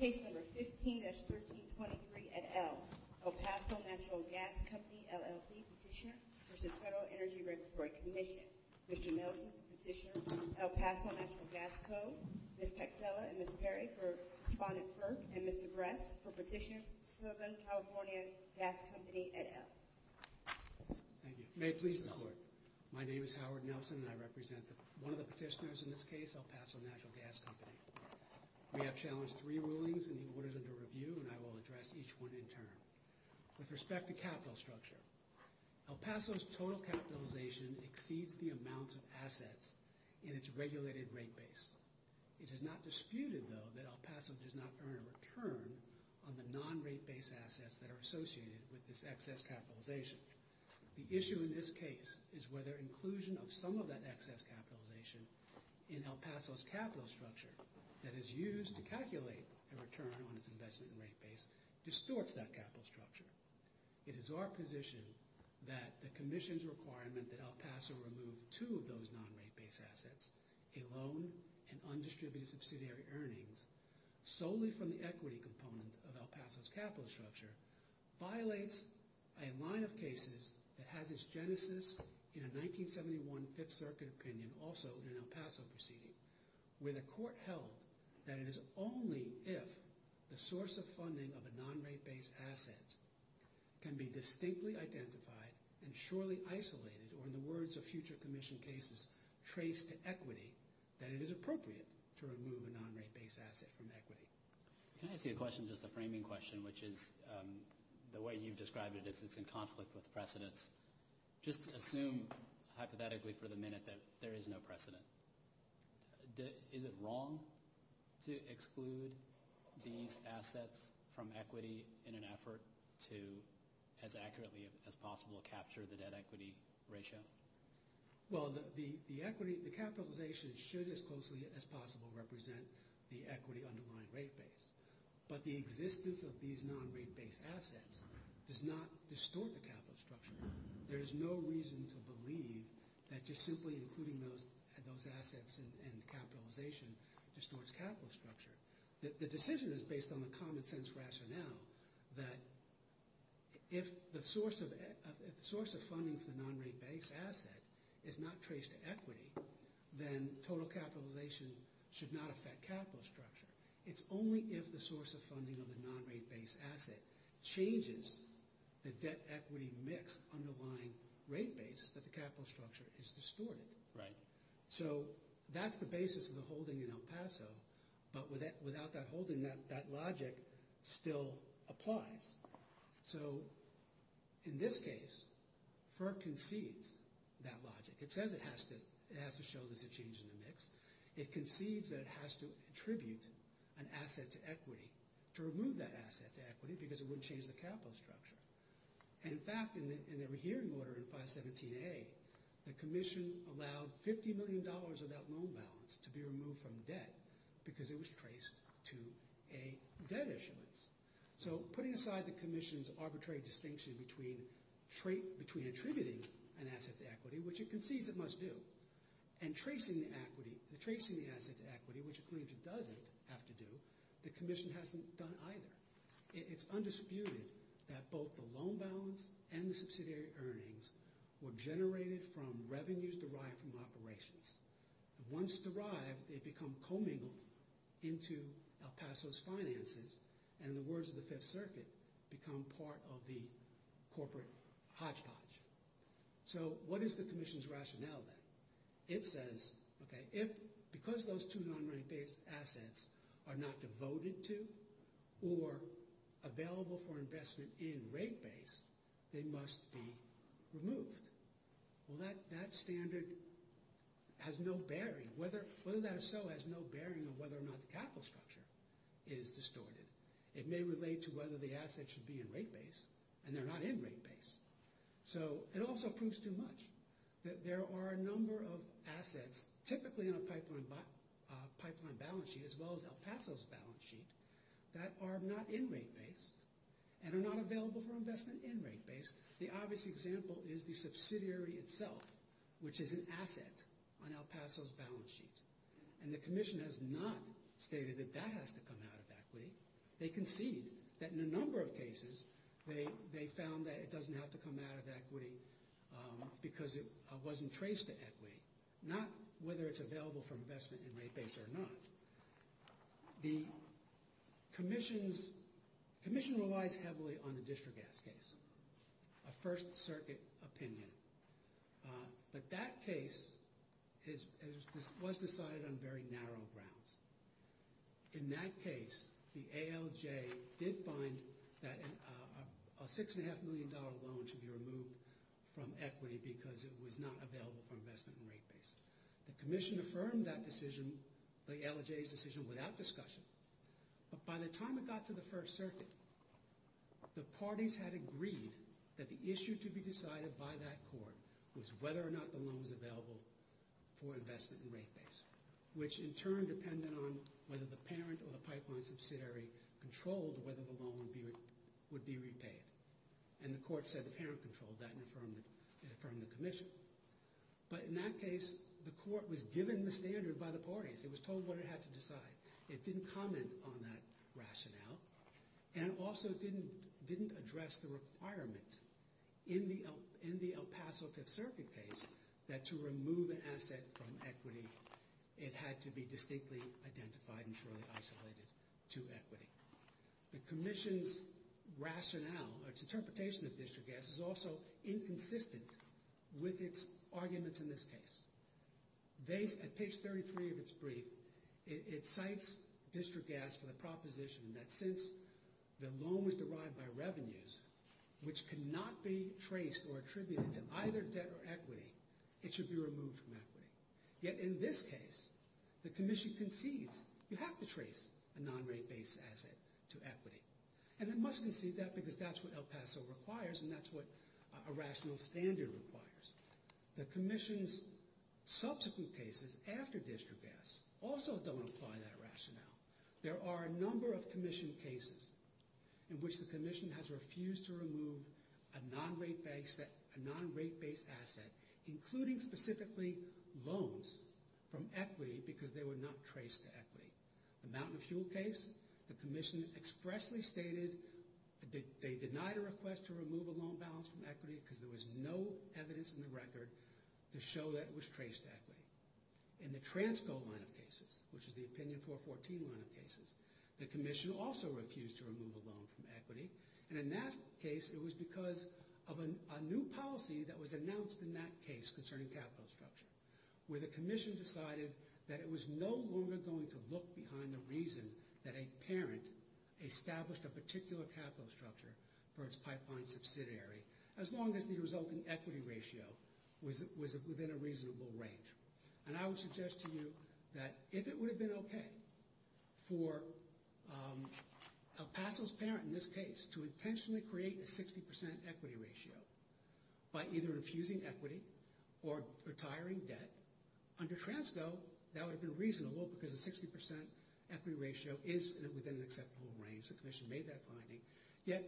Case No. 15-1323, et al., El Paso Natural Gas Company, LLC, Petitioner v. Federal Energy Regulatory Commission Mr. Nelson, Petitioner, El Paso Natural Gas Code Ms. Texella and Ms. Berry for Respondent FERC And Mr. Bress for Petitioner, Southern California Gas Company, et al. Thank you. May it please the Court. My name is Howard Nelson, and I represent one of the petitioners in this case, El Paso Natural Gas Company. We have challenged three rulings, and he orders them to review, and I will address each one in turn. With respect to capital structure, El Paso's total capitalization exceeds the amounts of assets in its regulated rate base. It is not disputed, though, that El Paso does not earn a return on the non-rate base assets that are associated with this excess capitalization. The issue in this case is whether inclusion of some of that excess capitalization in El Paso's capital structure that is used to calculate a return on its investment in rate base distorts that capital structure. It is our position that the Commission's requirement that El Paso remove two of those non-rate base assets, a loan and undistributed subsidiary earnings, solely from the equity component of El Paso's capital structure, violates a line of cases that has its genesis in a 1971 Fifth Circuit opinion, also in an El Paso proceeding, where the Court held that it is only if the source of funding of a non-rate base asset can be distinctly identified and surely isolated, or in the words of future Commission cases, traced to equity, that it is appropriate to remove a non-rate base asset from equity. Can I ask you a question, just a framing question, which is the way you've described it is it's in conflict with precedents. Just assume hypothetically for the minute that there is no precedent. Is it wrong to exclude these assets from equity in an effort to as accurately as possible capture the debt-equity ratio? Well, the capitalization should as closely as possible represent the equity underlying rate base. But the existence of these non-rate base assets does not distort the capital structure. There is no reason to believe that just simply including those assets in capitalization distorts capital structure. The decision is based on the common sense rationale that if the source of funding for the non-rate base asset is not traced to equity, then total capitalization should not affect capital structure. It's only if the source of funding of the non-rate base asset changes the debt-equity mix underlying rate base that the capital structure is distorted. Right. So that's the basis of the holding in El Paso. But without that holding, that logic still applies. So in this case, FERC concedes that logic. It says it has to show there's a change in the mix. It concedes that it has to attribute an asset to equity to remove that asset to equity because it wouldn't change the capital structure. In fact, in the rehearing order in 517A, the commission allowed $50 million of that loan balance to be removed from debt because it was traced to a debt issuance. So putting aside the commission's arbitrary distinction between attributing an asset to equity, which it concedes it must do, and tracing the asset to equity, which it claims it doesn't have to do, the commission hasn't done either. It's undisputed that both the loan balance and the subsidiary earnings were generated from revenues derived from operations. Once derived, they become commingled into El Paso's finances and, in the words of the Fifth Circuit, become part of the corporate hodgepodge. So what is the commission's rationale then? It says, okay, because those two non-rate-based assets are not devoted to or available for investment in rate base, they must be removed. Well, that standard has no bearing. Whether that is so has no bearing on whether or not the capital structure is distorted. It may relate to whether the asset should be in rate base, and they're not in rate base. So it also proves too much that there are a number of assets, typically in a pipeline balance sheet as well as El Paso's balance sheet, that are not in rate base and are not available for investment in rate base. The obvious example is the subsidiary itself, which is an asset on El Paso's balance sheet. And the commission has not stated that that has to come out of equity. They concede that in a number of cases they found that it doesn't have to come out of equity because it wasn't traced to equity, not whether it's available for investment in rate base or not. The commission relies heavily on the district gas case, a First Circuit opinion. But that case was decided on very narrow grounds. In that case, the ALJ did find that a $6.5 million loan should be removed from equity because it was not available for investment in rate base. The commission affirmed that decision, the ALJ's decision, without discussion. But by the time it got to the First Circuit, the parties had agreed that the issue to be decided by that court was whether or not the loan was available for investment in rate base, which in turn depended on whether the parent or the pipeline subsidiary controlled whether the loan would be repaid. And the court said the parent controlled that and affirmed the commission. But in that case, the court was given the standard by the parties. It was told what it had to decide. It didn't comment on that rationale and also didn't address the requirement in the El Paso Fifth Circuit case that to remove an asset from equity, it had to be distinctly identified and surely isolated to equity. The commission's rationale or its interpretation of district gas is also inconsistent with its arguments in this case. At page 33 of its brief, it cites district gas for the proposition that since the loan was derived by revenues, which cannot be traced or attributed to either debt or equity, it should be removed from equity. Yet in this case, the commission concedes you have to trace a non-rate base asset to equity. And it must concede that because that's what El Paso requires and that's what a rational standard requires. The commission's subsequent cases after district gas also don't apply that rationale. There are a number of commission cases in which the commission has refused to remove a non-rate base asset, including specifically loans from equity because they were not traced to equity. The Mountain of Fuel case, the commission expressly stated they denied a request to remove a loan balance from equity because there was no evidence in the record to show that it was traced to equity. In the Transco line of cases, which is the Opinion 414 line of cases, the commission also refused to remove a loan from equity. And in that case, it was because of a new policy that was announced in that case concerning capital structure, where the commission decided that it was no longer going to look behind the reason that a parent established a particular capital structure for its pipeline subsidiary as long as the resulting equity ratio was within a reasonable range. And I would suggest to you that if it would have been okay for El Paso's parent in this case to intentionally create a 60% equity ratio by either infusing equity or retiring debt, under Transco, that would have been reasonable because a 60% equity ratio is within an acceptable range. Perhaps the commission made that finding. Yet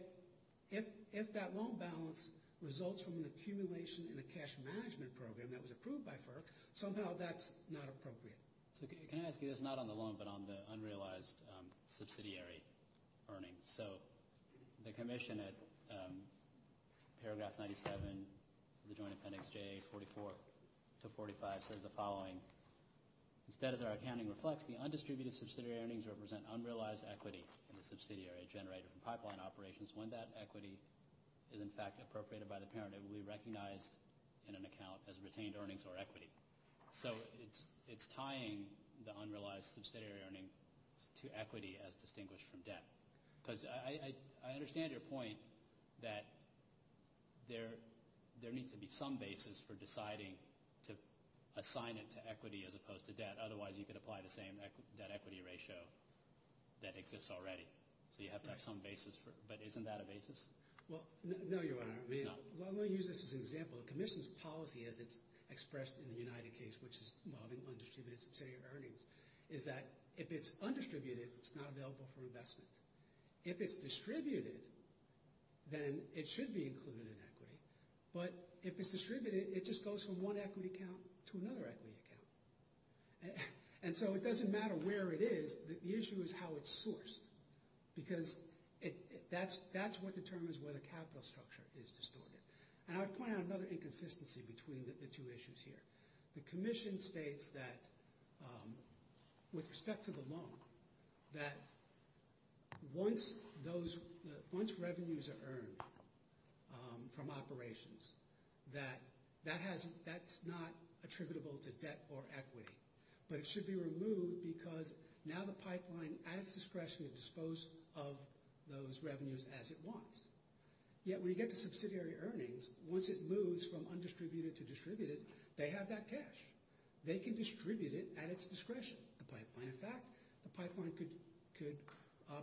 if that loan balance results from an accumulation in a cash management program that was approved by FERC, somehow that's not appropriate. Can I ask you this, not on the loan, but on the unrealized subsidiary earnings? So the commission at paragraph 97 of the Joint Appendix J44 to 45 says the following. Instead, as our accounting reflects, the undistributed subsidiary earnings represent unrealized equity in the subsidiary generated from pipeline operations. When that equity is, in fact, appropriated by the parent, it will be recognized in an account as retained earnings or equity. So it's tying the unrealized subsidiary earnings to equity as distinguished from debt. Because I understand your point that there needs to be some basis for deciding to assign it to equity as opposed to debt. Otherwise, you could apply the same debt equity ratio that exists already. So you have to have some basis. But isn't that a basis? Well, no, Your Honor. Let me use this as an example. The commission's policy, as it's expressed in the United case, which is involving undistributed subsidiary earnings, is that if it's undistributed, it's not available for investment. If it's distributed, then it should be included in equity. But if it's distributed, it just goes from one equity account to another equity account. And so it doesn't matter where it is. The issue is how it's sourced. Because that's what determines whether capital structure is distorted. And I would point out another inconsistency between the two issues here. The commission states that with respect to the loan, that once revenues are earned from operations, that that's not attributable to debt or equity. But it should be removed because now the pipeline, at its discretion, has disposed of those revenues as it wants. Yet when you get to subsidiary earnings, once it moves from undistributed to distributed, they have that cash. They can distribute it at its discretion, the pipeline. In fact, the pipeline could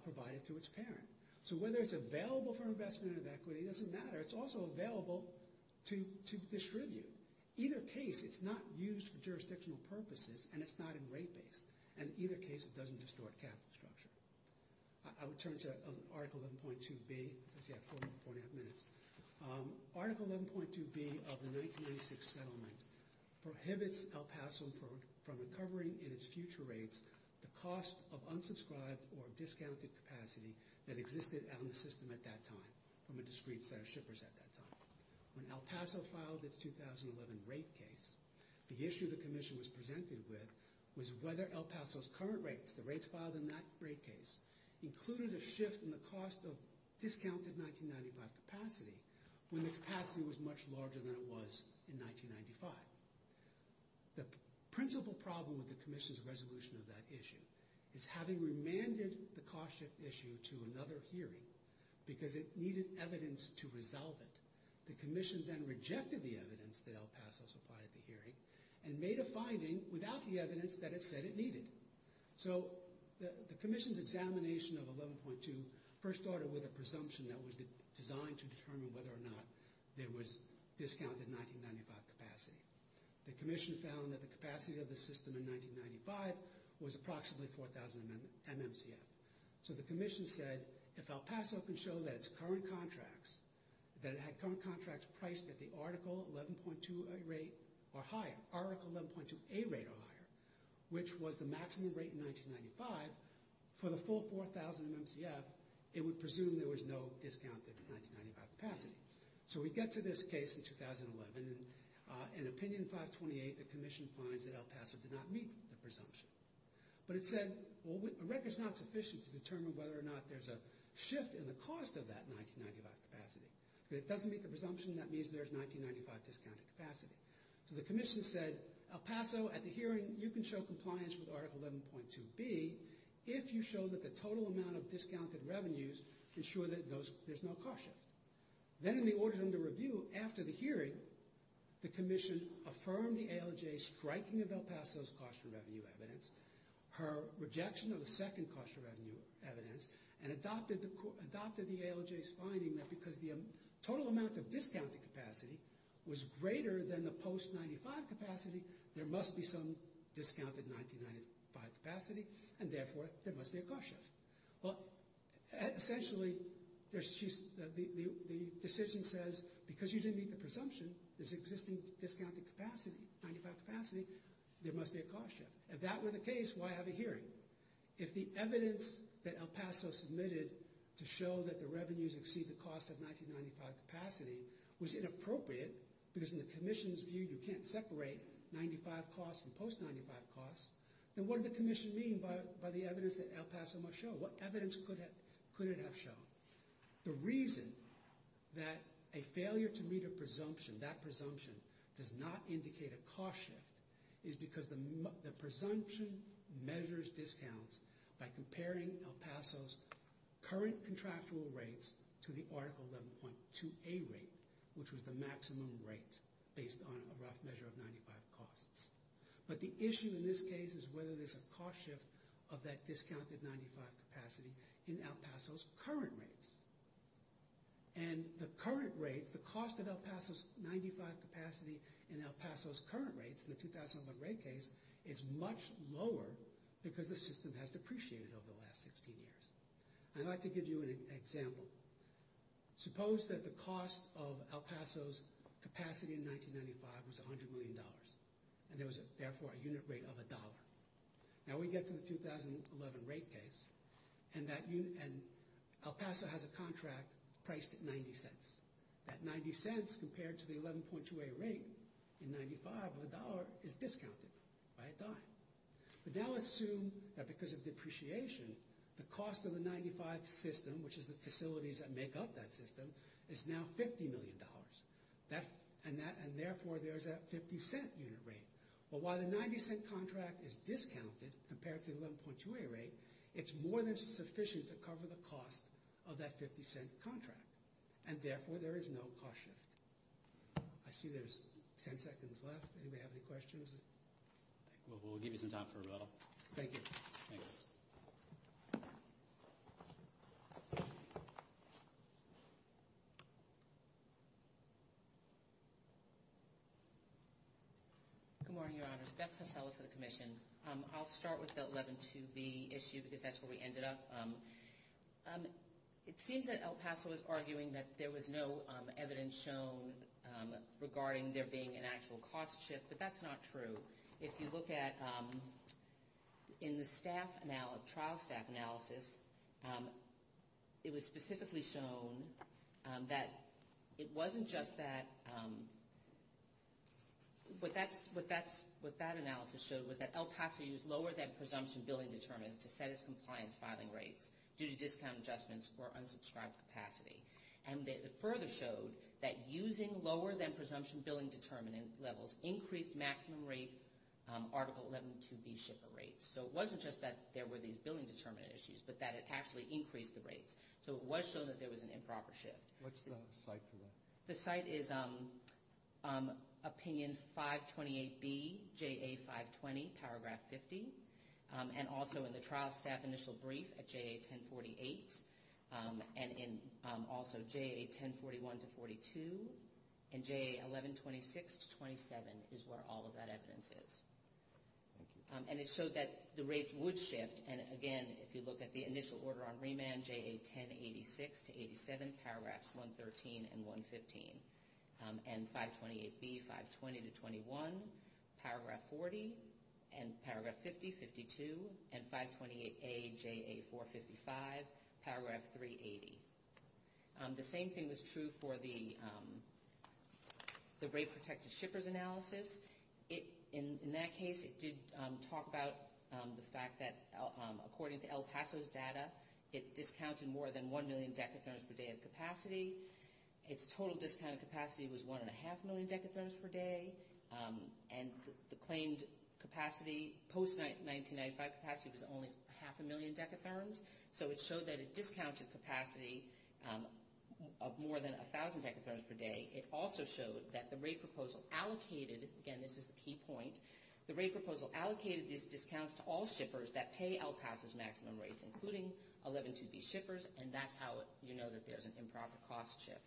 provide it to its parent. So whether it's available for investment or equity doesn't matter. It's also available to distribute. Either case, it's not used for jurisdictional purposes, and it's not in rate base. And either case, it doesn't distort capital structure. I would turn to Article 11.2B. I have four and a half minutes. Article 11.2B of the 1996 settlement prohibits El Paso from recovering in its future rates the cost of unsubscribed or discounted capacity that existed on the system at that time from a discrete set of shippers at that time. When El Paso filed its 2011 rate case, the issue the commission was presented with was whether El Paso's current rates, the rates filed in that rate case, included a shift in the cost of discounted 1995 capacity when the capacity was much larger than it was in 1995. The principal problem with the commission's resolution of that issue is having remanded the cost shift issue to another hearing because it needed evidence to resolve it. The commission then rejected the evidence that El Paso supplied at the hearing and made a finding without the evidence that it said it needed. So the commission's examination of 11.2 first started with a presumption that was designed to determine whether or not there was discounted 1995 capacity. The commission found that the capacity of the system in 1995 was approximately 4,000 MMCF. So the commission said, if El Paso can show that its current contracts, that it had current contracts priced at the Article 11.2A rate or higher, which was the maximum rate in 1995, for the full 4,000 MMCF, it would presume there was no discounted 1995 capacity. So we get to this case in 2011. In Opinion 528, the commission finds that El Paso did not meet the presumption. But it said, a record's not sufficient to determine whether or not there's a shift in the cost of that 1995 capacity. If it doesn't meet the presumption, that means there's 1995 discounted capacity. So the commission said, El Paso, at the hearing, you can show compliance with Article 11.2B if you show that the total amount of discounted revenues ensure that there's no cost shift. Then in the Orders Under Review, after the hearing, the commission affirmed the ALJ's striking of El Paso's cost of revenue evidence, her rejection of the second cost of revenue evidence, was greater than the post-1995 capacity, there must be some discounted 1995 capacity, and therefore, there must be a cost shift. Well, essentially, the decision says, because you didn't meet the presumption, there's existing discounted capacity, 1995 capacity, there must be a cost shift. If that were the case, why have a hearing? If the evidence that El Paso submitted to show that the revenues exceed the cost of 1995 capacity was inappropriate, because in the commission's view, you can't separate 1995 costs from post-1995 costs, then what did the commission mean by the evidence that El Paso must show? What evidence could it have shown? The reason that a failure to meet a presumption, that presumption does not indicate a cost shift, is because the presumption measures discounts by comparing El Paso's current contractual rates to the Article 11.2a rate, which was the maximum rate, based on a rough measure of 95 costs. But the issue in this case is whether there's a cost shift of that discounted 95 capacity in El Paso's current rates. And the current rates, the cost of El Paso's 95 capacity in El Paso's current rates, in the 2001 rate case, is much lower because the system has depreciated over the last 16 years. I'd like to give you an example. Suppose that the cost of El Paso's capacity in 1995 was $100 million, and there was therefore a unit rate of $1. Now we get to the 2011 rate case, and El Paso has a contract priced at $0.90. That $0.90 compared to the 11.2a rate in 1995 of $1 is discounted by a dime. But now assume that because of depreciation, the cost of the 95 system, which is the facilities that make up that system, is now $50 million. And therefore there's that $0.50 unit rate. But while the $0.90 contract is discounted compared to the 11.2a rate, it's more than sufficient to cover the cost of that $0.50 contract, and therefore there is no cost shift. I see there's 10 seconds left. Anybody have any questions? We'll give you some time for rebuttal. Thank you. Good morning, Your Honors. Beth Pasella for the Commission. I'll start with the 11.2b issue, because that's where we ended up. It seems that El Paso is arguing that there was no evidence shown regarding there being an actual cost shift, but that's not true. If you look at the trial staff analysis, it was specifically shown that it wasn't just that... What that analysis showed was that El Paso used lower-than-presumption billing determinants to set its compliance filing rates due to discount adjustments or unsubscribed capacity. And it further showed that using lower-than-presumption billing determinant levels increased maximum rate Article 11.2b shipper rates. So it wasn't just that there were these billing determinant issues, but that it actually increased the rates. So it was shown that there was an improper shift. What's the site for that? The site is Opinion 528B, JA 520, Paragraph 50, and also in the trial staff initial brief at JA 1048, and in also JA 1041-42, and JA 1126-27 is where all of that evidence is. And it showed that the rates would shift, and again, if you look at the initial order on remand, JA 1086-87, Paragraphs 113 and 115, and 528B, 520-21, Paragraph 40, and Paragraph 50-52, and 528A, JA 455, Paragraph 380. The same thing was true for the rate-protected shippers analysis. In that case, it did talk about the fact that, according to El Paso's data, it discounted more than 1 million decatherms per day of capacity. Its total discounted capacity was 1.5 million decatherms per day. And the claimed capacity post-1995 capacity was only half a million decatherms, so it showed that it discounted capacity of more than 1,000 decatherms per day. It also showed that the rate proposal allocated, again, this is the key point, the rate proposal allocated these discounts to all shippers that pay El Paso's maximum rates, including 112B shippers, and that's how you know that there's an improper cost shift.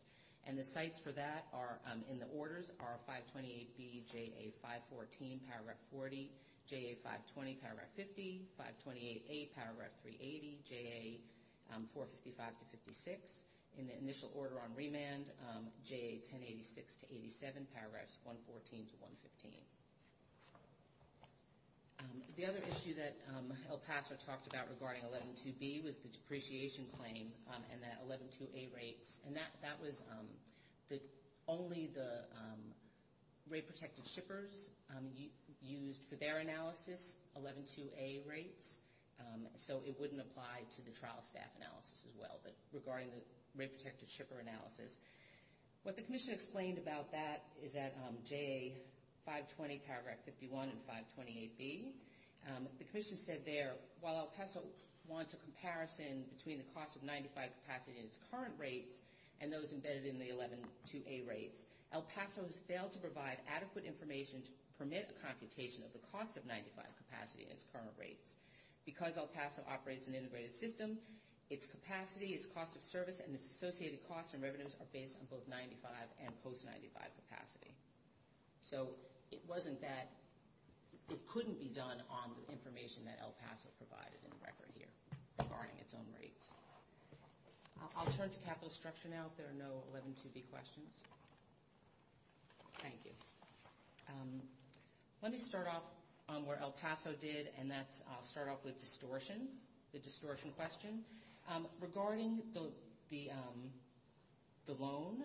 And the sites for that are, in the orders, are 528B, JA 514, Paragraph 40, JA 520, Paragraph 50, 528A, Paragraph 380, JA 455-56. In the initial order on remand, JA 1086-87, Paragraphs 114-115. The other issue that El Paso talked about regarding 112B was the depreciation claim and the 112A rates. And that was only the rate-protected shippers used for their analysis, 112A rates, so it wouldn't apply to the trial staff analysis as well, but regarding the rate-protected shipper analysis. What the commission explained about that is at JA 520, Paragraph 51, and 528B. The commission said there, while El Paso wants a comparison between the cost of 95 capacity in its current rates and those embedded in the 112A rates, El Paso has failed to provide adequate information to permit a computation of the cost of 95 capacity in its current rates. Because El Paso operates an integrated system, its capacity, its cost of service, and its associated costs and revenues are based on both 95 and post-95 capacity. So it wasn't that it couldn't be done on the information that El Paso provided in the record here regarding its own rates. I'll turn to capital structure now if there are no 112B questions. Thank you. Let me start off where El Paso did, and that's start off with distortion, the distortion question. Regarding the loan,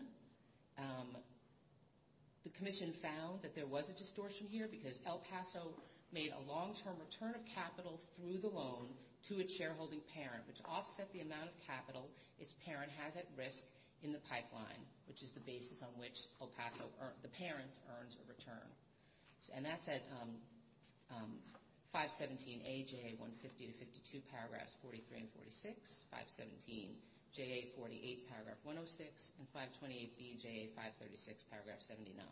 the commission found that there was a distortion here because El Paso made a long-term return of capital through the loan to its shareholding parent, which offset the amount of capital its parent has at risk in the pipeline, which is the basis on which El Paso, the parent, earns a return. And that's at 517AJA150-52, paragraphs 43 and 46, 517JA48, paragraph 106, and 528BJA536, paragraph 79.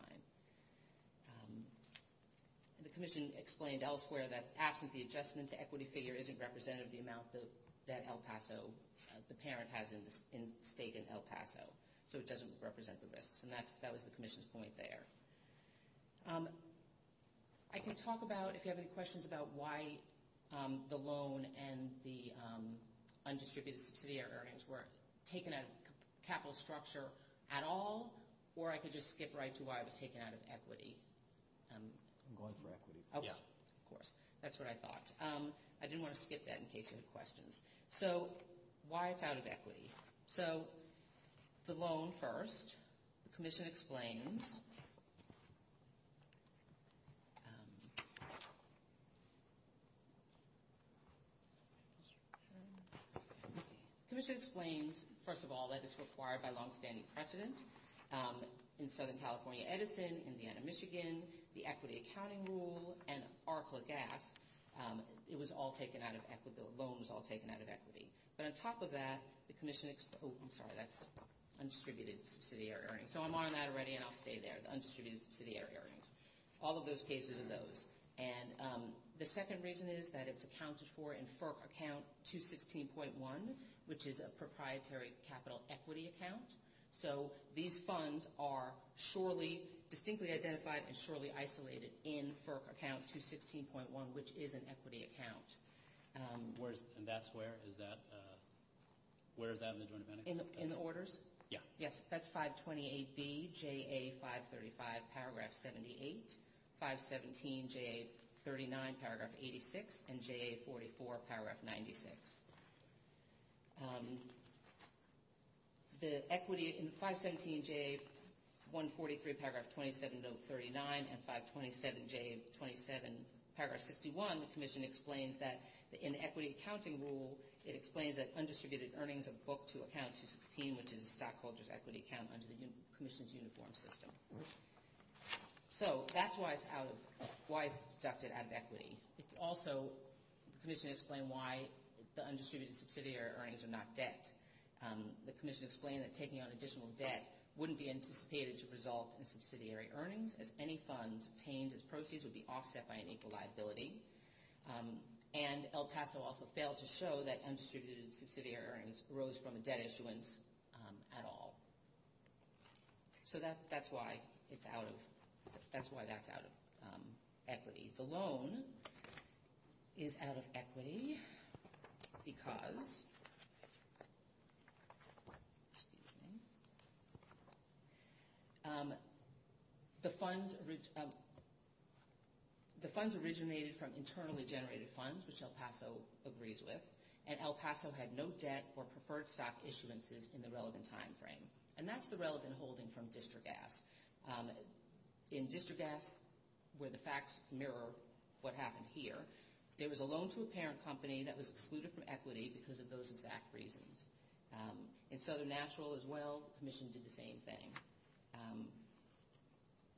The commission explained elsewhere that absent the adjustment, the equity figure isn't representative of the amount that El Paso, the parent has in state in El Paso, so it doesn't represent the risks, and that was the commission's point there. I can talk about, if you have any questions, about why the loan and the undistributed subsidiary earnings were taken out of capital structure at all, or I could just skip right to why it was taken out of equity. I'm going for equity. Oh, of course. That's what I thought. I didn't want to skip that in case you had questions. So, why it's out of equity. So, the loan first. The commission explains... The commission explains, first of all, that it's required by longstanding precedent in Southern California Edison, Indiana, Michigan, the equity accounting rule, and Arkla Gas. It was all taken out of equity. The loan was all taken out of equity. But on top of that, the commission... Oh, I'm sorry. That's undistributed subsidiary earnings. So, I'm on that already, and I'll stay there. The undistributed subsidiary earnings. All of those cases are those. And the second reason is that it's accounted for in FERC account 216.1, which is a proprietary capital equity account. So, these funds are surely, distinctly identified and surely isolated in FERC account 216.1, which is an equity account. And that's where? Is that... Where is that in the joint appendix? In the orders? Yeah. Yes, that's 528B, JA 535, paragraph 78. 517, JA 39, paragraph 86. And JA 44, paragraph 96. The equity in 517, JA 143, paragraph 27, note 39, and 527, JA 27, paragraph 61, the commission explains that in the equity accounting rule, it explains that undistributed earnings are booked to account 216, which is a stockholder's equity account under the commission's uniform system. So, that's why it's out of... Why it's deducted out of equity. Also, the commission explained why the undistributed subsidiary earnings are not debt. The commission explained that taking on additional debt wouldn't be anticipated to result in subsidiary earnings, as any funds obtained as proceeds would be offset by an equal liability. And El Paso also failed to show that undistributed subsidiary earnings arose from a debt issuance at all. So, that's why it's out of... That's why that's out of equity. The loan is out of equity because... The funds originated from internally generated funds, which El Paso agrees with, and El Paso had no debt or preferred stock issuances in the relevant time frame. And that's the relevant holding from District Ass. In District Ass, where the facts mirror what happened here, there was a loan to a parent company that was excluded from equity because of those exact reasons. In Southern Natural as well, the commission did the same thing.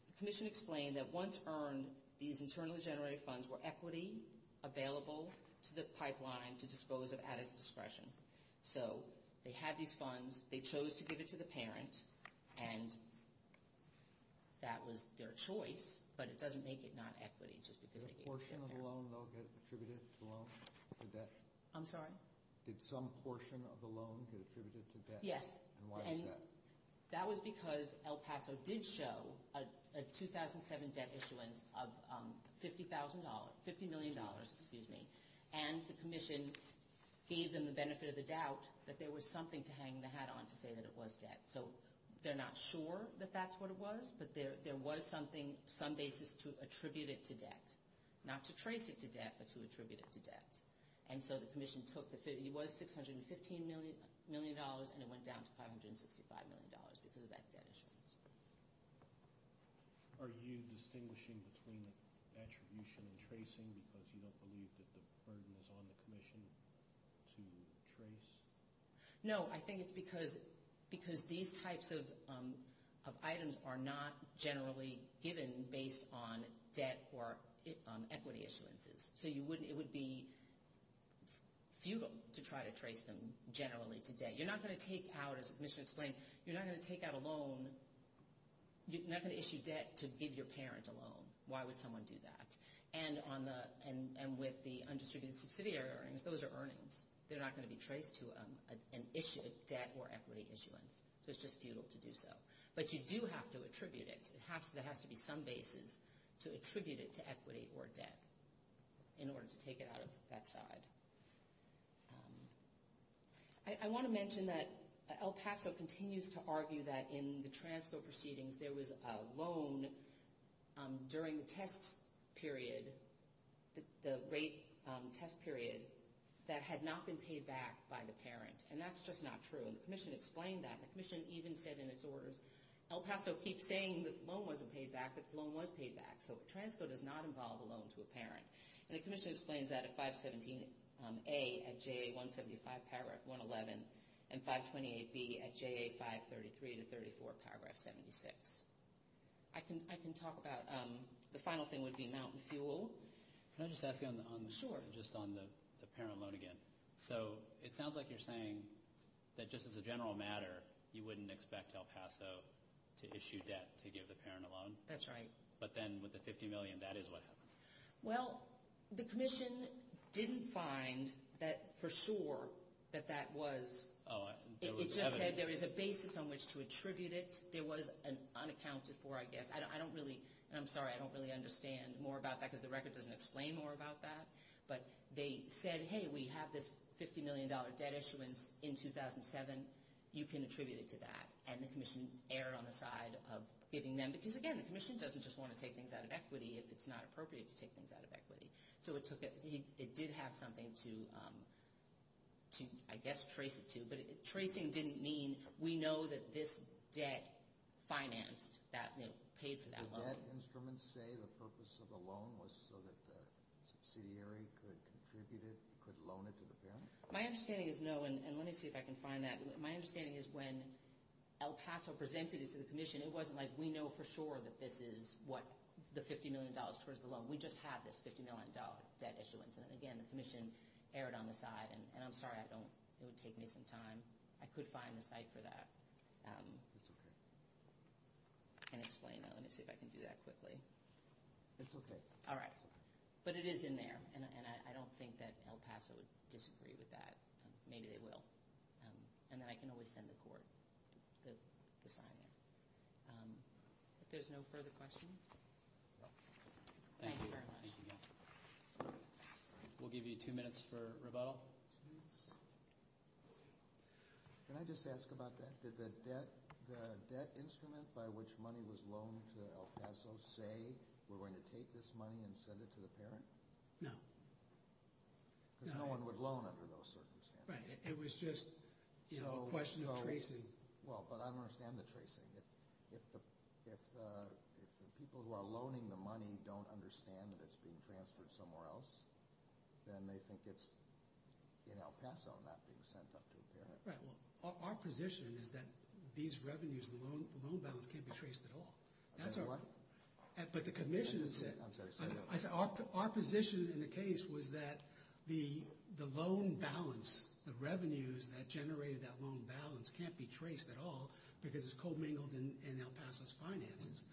The commission explained that once earned, these internally generated funds were equity, available to the pipeline to dispose of at its discretion. And that was their choice, but it doesn't make it not equity just because... Did a portion of the loan, though, get attributed to debt? I'm sorry? Did some portion of the loan get attributed to debt? Yes. And why is that? That was because El Paso did show a 2007 debt issuance of $50,000, $50 million, excuse me, and the commission gave them the benefit of the doubt that there was something to hang the hat on to say that it was debt. So they're not sure that that's what it was, but there was something, some basis to attribute it to debt. Not to trace it to debt, but to attribute it to debt. And so the commission took the... It was $615 million, and it went down to $565 million because of that debt issuance. Are you distinguishing between attribution and tracing because you don't believe that the burden is on the commission to trace? No, I think it's because these types of items are not generally given based on debt or equity issuances. So it would be futile to try to trace them generally to debt. You're not going to take out, as the commission explained, you're not going to take out a loan, you're not going to issue debt to give your parent a loan. Why would someone do that? And with the undistributed subsidiary earnings, those are earnings. They're not going to be traced to a debt or equity issuance. So it's just futile to do so. But you do have to attribute it. There has to be some basis to attribute it to equity or debt in order to take it out of that side. I want to mention that El Paso continues to argue that in the transfer proceedings, there was a loan during the test period, the rate test period, that had not been paid back by the parent. And that's just not true. And the commission explained that. The commission even said in its orders, El Paso keeps saying that the loan wasn't paid back, but the loan was paid back. So a transfer does not involve a loan to a parent. And the commission explains that at 517A at JA175, paragraph 111, and 528B at JA533 to 34, paragraph 76. I can talk about the final thing would be Mountain Fuel. Can I just ask you on the parent loan again? So it sounds like you're saying that just as a general matter, you wouldn't expect El Paso to issue debt to give the parent a loan. That's right. But then with the $50 million, that is what happened. Well, the commission didn't find for sure that that was. It just said there is a basis on which to attribute it. There was an unaccounted for, I guess. And I'm sorry, I don't really understand more about that because the record doesn't explain more about that. But they said, hey, we have this $50 million debt issuance in 2007. You can attribute it to that. And the commission erred on the side of giving them. Because, again, the commission doesn't just want to take things out of equity if it's not appropriate to take things out of equity. So it did have something to, I guess, trace it to. But tracing didn't mean we know that this debt financed, paid for that loan. Did that instrument say the purpose of the loan was so that the subsidiary could contribute it, could loan it to the parent? My understanding is no. And let me see if I can find that. My understanding is when El Paso presented it to the commission, it wasn't like we know for sure that this is what the $50 million towards the loan. We just have this $50 million debt issuance. And, again, the commission erred on the side. And I'm sorry it would take me some time. I could find the site for that and explain that. Let me see if I can do that quickly. It's okay. All right. But it is in there. And I don't think that El Paso would disagree with that. Maybe they will. And then I can always send the court the sign there. If there's no further questions. Thank you very much. Thank you. We'll give you two minutes for rebuttal. Can I just ask about that? Did the debt instrument by which money was loaned to El Paso say we're going to take this money and send it to the parent? No. Because no one would loan under those circumstances. Right. It was just a question of tracing. Well, but I don't understand the tracing. If the people who are loaning the money don't understand that it's being transferred somewhere else, then they think it's in El Paso and not being sent up to a parent. Right. Well, our position is that these revenues and the loan balance can't be traced at all. I beg your pardon? I'm sorry. Our position in the case was that the loan balance, the revenues that generated that loan balance can't be traced at all because it's commingled in El Paso's finances.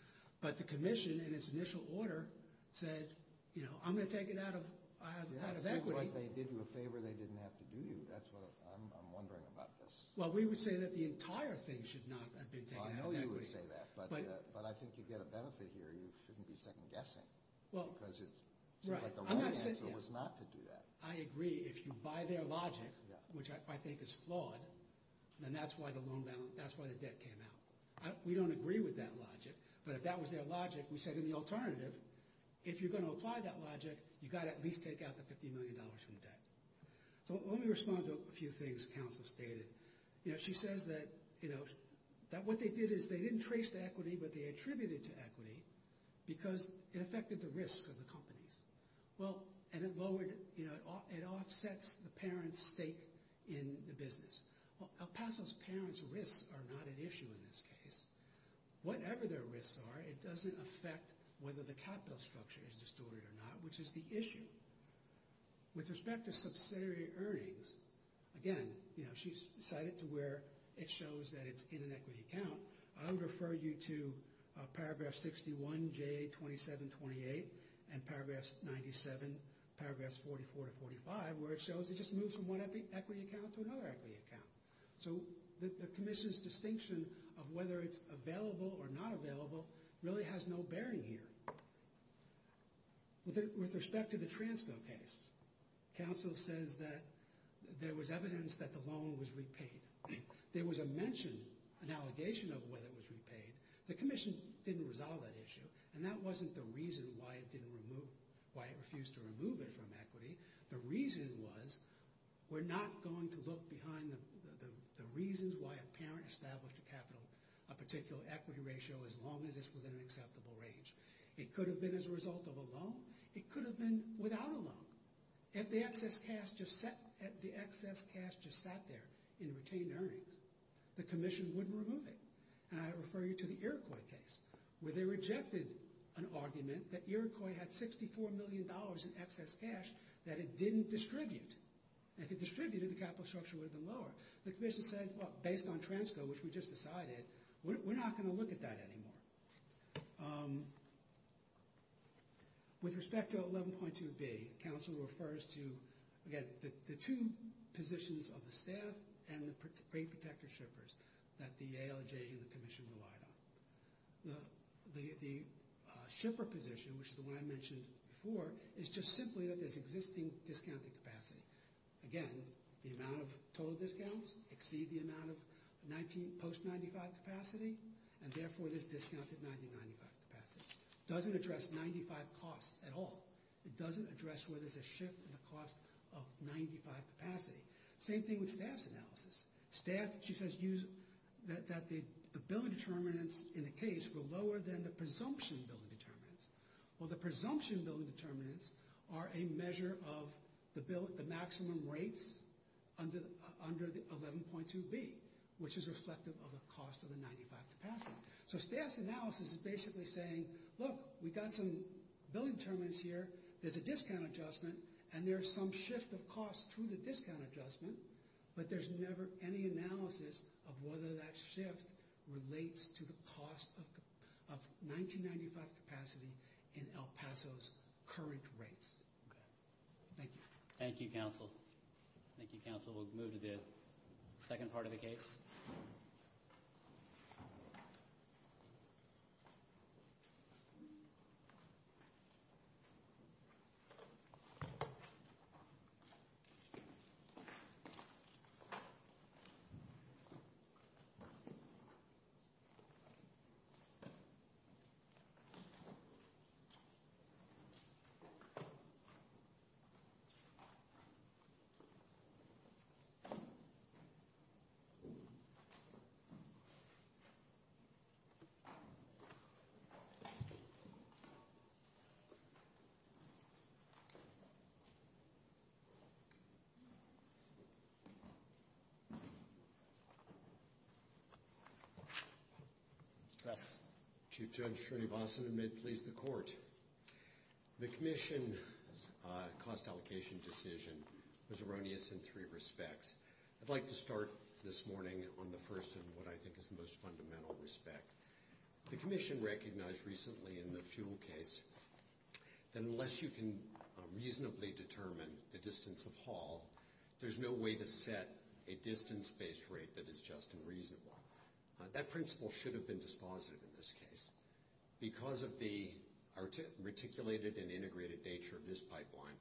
But the commission, in its initial order, said, you know, I'm going to take it out of equity. It seems like they did you a favor they didn't have to do you. That's what I'm wondering about this. Well, we would say that the entire thing should not have been taken out of equity. I know you would say that, but I think you get a benefit here. You shouldn't be second-guessing because it seems like the right answer was not to do that. I agree. If you buy their logic, which I think is flawed, then that's why the loan balance, that's why the debt came out. We don't agree with that logic, but if that was their logic, we said in the alternative, if you're going to apply that logic, you've got to at least take out the $50 million from the debt. So let me respond to a few things counsel stated. You know, she says that, you know, that what they did is they didn't trace the equity, but they attributed it to equity because it affected the risk of the companies. Well, and it lowered, you know, it offsets the parents' stake in the business. Well, El Paso's parents' risks are not an issue in this case. Whatever their risks are, it doesn't affect whether the capital structure is distorted or not, which is the issue. With respect to subsidiary earnings, again, you know, she's cited to where it shows that it's in an equity account. I don't refer you to Paragraph 61JA2728 and Paragraph 97, Paragraphs 44 to 45, where it shows it just moves from one equity account to another equity account. So the commission's distinction of whether it's available or not available really has no bearing here. With respect to the Transco case, counsel says that there was evidence that the loan was repaid. There was a mention, an allegation of whether it was repaid. The commission didn't resolve that issue, and that wasn't the reason why it refused to remove it from equity. The reason was we're not going to look behind the reasons why a parent established a capital, a particular equity ratio as long as it's within an acceptable range. It could have been as a result of a loan. It could have been without a loan. If the excess cash just sat there in retained earnings, the commission wouldn't remove it. And I refer you to the Iroquois case, where they rejected an argument that Iroquois had $64 million in excess cash that it didn't distribute. If it distributed, the capital structure would have been lower. The commission said, well, based on Transco, which we just decided, we're not going to look at that anymore. With respect to 11.2B, counsel refers to, again, the two positions of the staff and the rate protector shippers that the ALJ and the commission relied on. The shipper position, which is the one I mentioned before, is just simply that there's existing discounted capacity. Again, the amount of total discounts exceed the amount of post-'95 capacity, and therefore there's discounted $90.95 capacity. It doesn't address $95 costs at all. It doesn't address whether there's a shift in the cost of $95 capacity. Same thing with staff's analysis. Staff, she says, use that the billing determinants in the case were lower than the presumption billing determinants. Well, the presumption billing determinants are a measure of the maximum rates under 11.2B, which is reflective of the cost of the $95 capacity. So staff's analysis is basically saying, look, we've got some billing determinants here, there's a discount adjustment, and there's some shift of costs through the discount adjustment, but there's never any analysis of whether that shift relates to the cost of $19.95 capacity in El Paso's current rates. Thank you. Thank you, counsel. Thank you, counsel. We'll move to the second part of the case. Yes. Chief Judge Schroeder-Boston, and may it please the Court. The commission's cost allocation decision was erroneous in three respects. I'd like to start this morning on the first and what I think is the most fundamental respect. The commission recognized recently in the fuel case that unless you can reasonably determine the distance of haul, there's no way to set a distance-based rate that is just and reasonable. That principle should have been dispositive in this case. Because of the articulated and integrated nature of this pipeline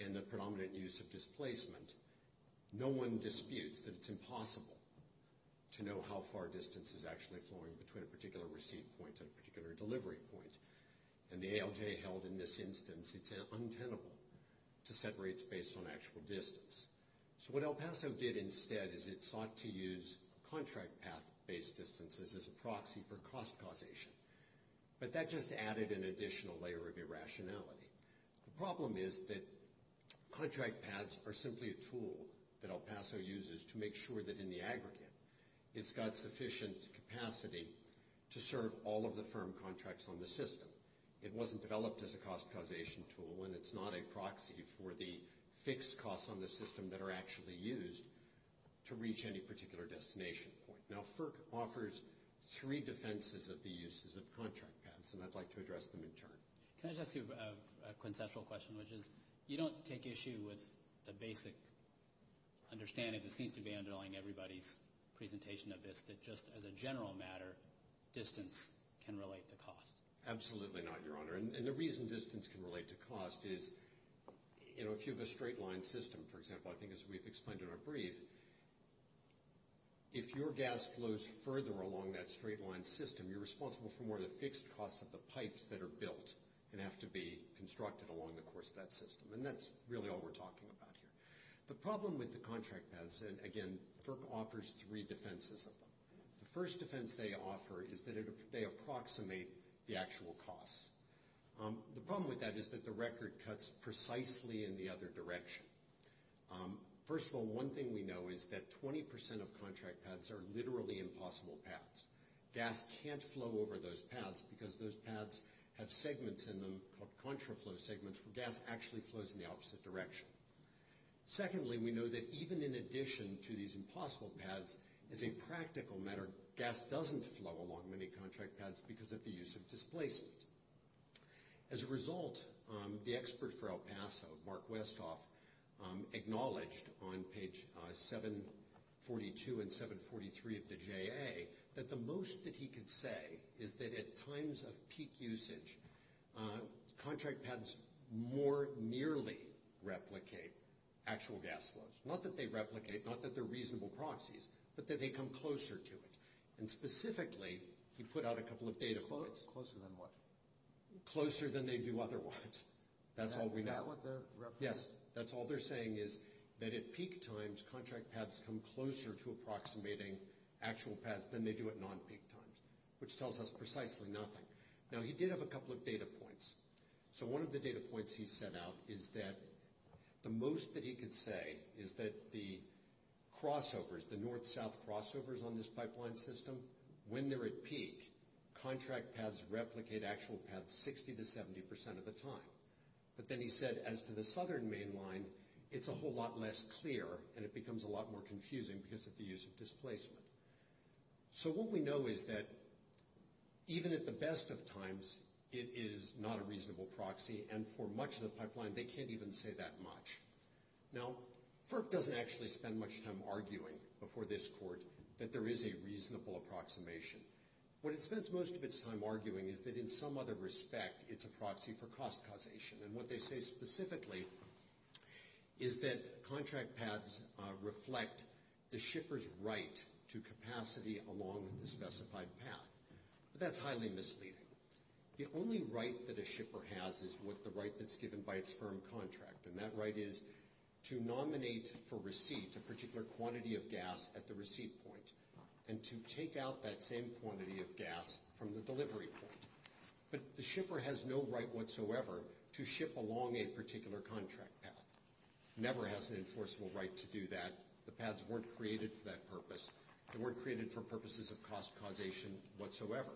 and the predominant use of displacement, no one disputes that it's impossible to know how far distance is actually flowing between a particular receipt point and a particular delivery point. And the ALJ held in this instance, it's untenable to set rates based on actual distance. So what El Paso did instead is it sought to use contract path-based distances as a proxy for cost causation. But that just added an additional layer of irrationality. The problem is that contract paths are simply a tool that El Paso uses to make sure that in the aggregate, it's got sufficient capacity to serve all of the firm contracts on the system. It wasn't developed as a cost causation tool and it's not a proxy for the fixed costs on the system that are actually used to reach any particular destination point. Now FERC offers three defenses of the uses of contract paths, and I'd like to address them in turn. Can I just ask you a conceptual question, which is you don't take issue with the basic understanding that seems to be underlying everybody's presentation of this, that just as a general matter, distance can relate to cost. Absolutely not, Your Honor. And the reason distance can relate to cost is if you have a straight-line system, for example, I think as we've explained in our brief, is if your gas flows further along that straight-line system, you're responsible for more of the fixed costs of the pipes that are built and have to be constructed along the course of that system. And that's really all we're talking about here. The problem with the contract paths, and again, FERC offers three defenses of them. The first defense they offer is that they approximate the actual costs. The problem with that is that the record cuts precisely in the other direction. First of all, one thing we know is that 20% of contract paths are literally impossible paths. Gas can't flow over those paths because those paths have segments in them called contraflow segments where gas actually flows in the opposite direction. Secondly, we know that even in addition to these impossible paths, as a practical matter, gas doesn't flow along many contract paths because of the use of displacement. As a result, the expert for El Paso, Mark Westhoff, acknowledged on page 742 and 743 of the JA that the most that he could say is that at times of peak usage, contract paths more nearly replicate actual gas flows. Not that they replicate, not that they're reasonable proxies, but that they come closer to it. And specifically, he put out a couple of data points. Closer than what? Closer than they do otherwise. That's all we know. Is that what they're representing? Yes. That's all they're saying is that at peak times, contract paths come closer to approximating actual paths than they do at non-peak times, which tells us precisely nothing. Now, he did have a couple of data points. So one of the data points he set out is that the most that he could say is that the crossovers, the north-south crossovers on this pipeline system, when they're at peak, contract paths replicate actual paths 60% to 70% of the time. But then he said as to the southern main line, it's a whole lot less clear, and it becomes a lot more confusing because of the use of displacement. So what we know is that even at the best of times, it is not a reasonable proxy, and for much of the pipeline, they can't even say that much. Now, FERC doesn't actually spend much time arguing before this court that there is a reasonable approximation. What it spends most of its time arguing is that in some other respect, it's a proxy for cost causation. And what they say specifically is that contract paths reflect the shipper's right to capacity along the specified path. But that's highly misleading. The only right that a shipper has is the right that's given by its firm contract, and that right is to nominate for receipt a particular quantity of gas at the receipt point and to take out that same quantity of gas from the delivery point. But the shipper has no right whatsoever to ship along a particular contract path, never has an enforceable right to do that. The paths weren't created for that purpose. They weren't created for purposes of cost causation whatsoever.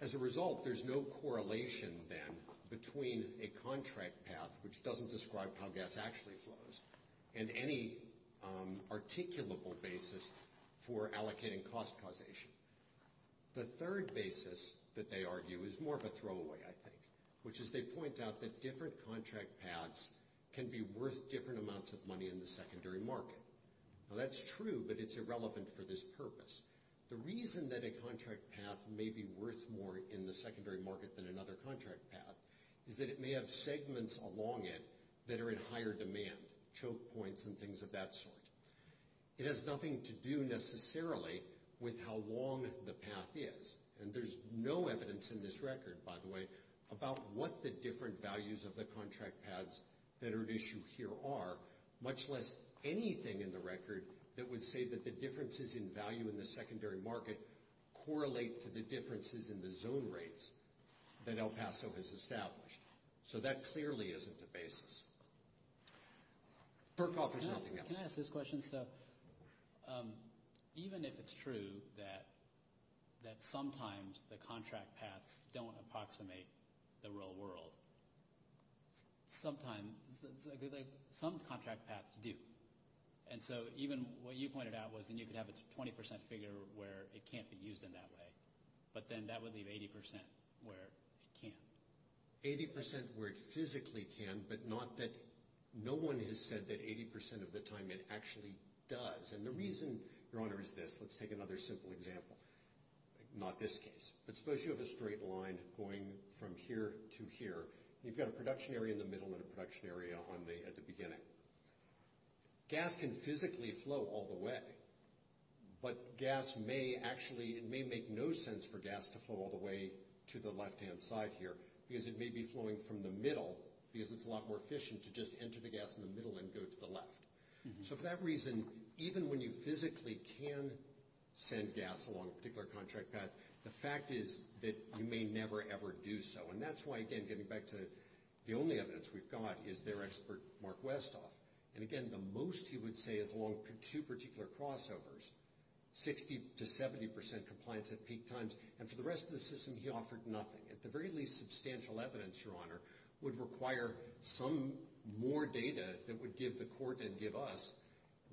As a result, there's no correlation then between a contract path, which doesn't describe how gas actually flows, and any articulable basis for allocating cost causation. The third basis that they argue is more of a throwaway, I think, which is they point out that different contract paths can be worth different amounts of money in the secondary market. Now, that's true, but it's irrelevant for this purpose. The reason that a contract path may be worth more in the secondary market than another contract path is that it may have segments along it that are in higher demand, choke points and things of that sort. It has nothing to do necessarily with how long the path is. And there's no evidence in this record, by the way, about what the different values of the contract paths that are at issue here are, much less anything in the record that would say that the differences in value in the secondary market correlate to the differences in the zone rates that El Paso has established. So that clearly isn't the basis. Perkov, there's nothing else. Can I ask this question? Even if it's true that sometimes the contract paths don't approximate the real world, sometimes some contract paths do. And so even what you pointed out was that you could have a 20% figure where it can't be used in that way, but then that would leave 80% where it can. 80% where it physically can, but not that no one has said that 80% of the time it actually does. And the reason, Your Honor, is this. Let's take another simple example. Not this case. But suppose you have a straight line going from here to here, and you've got a production area in the middle and a production area at the beginning. Gas can physically flow all the way, but gas may actually, it may make no sense for gas to flow all the way to the left-hand side here because it may be flowing from the middle because it's a lot more efficient to just enter the gas in the middle and go to the left. So for that reason, even when you physically can send gas along a particular contract path, the fact is that you may never, ever do so. And that's why, again, getting back to the only evidence we've got is their expert, Mark Westhoff. And, again, the most he would say is along two particular crossovers, 60% to 70% compliance at peak times. And for the rest of the system, he offered nothing. At the very least, substantial evidence, Your Honor, would require some more data that would give the court and give us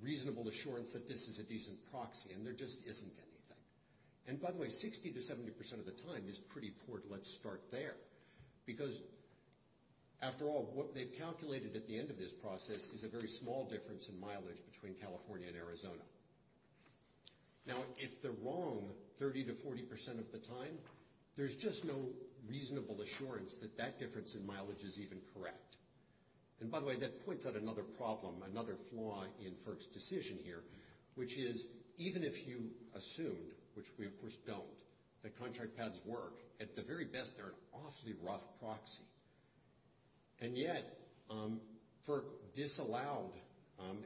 reasonable assurance that this is a decent proxy, and there just isn't anything. And, by the way, 60% to 70% of the time is pretty poor to let start there because, after all, what they've calculated at the end of this process is a very small difference in mileage between California and Arizona. Now, if they're wrong 30% to 40% of the time, there's just no reasonable assurance that that difference in mileage is even correct. And, by the way, that points out another problem, another flaw in Firk's decision here, which is even if you assumed, which we, of course, don't, that contract pads work, at the very best, they're an awfully rough proxy. And yet, Firk disallowed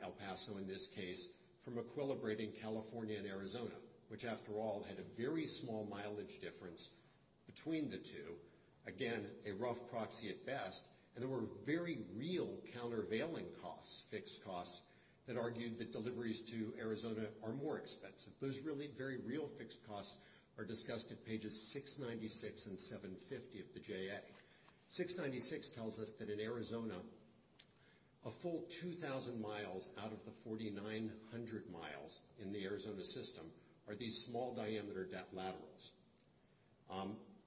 El Paso, in this case, from equilibrating California and Arizona, which, after all, had a very small mileage difference between the two. Again, a rough proxy at best, and there were very real countervailing costs, fixed costs, that argued that deliveries to Arizona are more expensive. Those really very real fixed costs are discussed at pages 696 and 750 of the JA. 696 tells us that, in Arizona, a full 2,000 miles out of the 4,900 miles in the Arizona system are these small diameter laterals.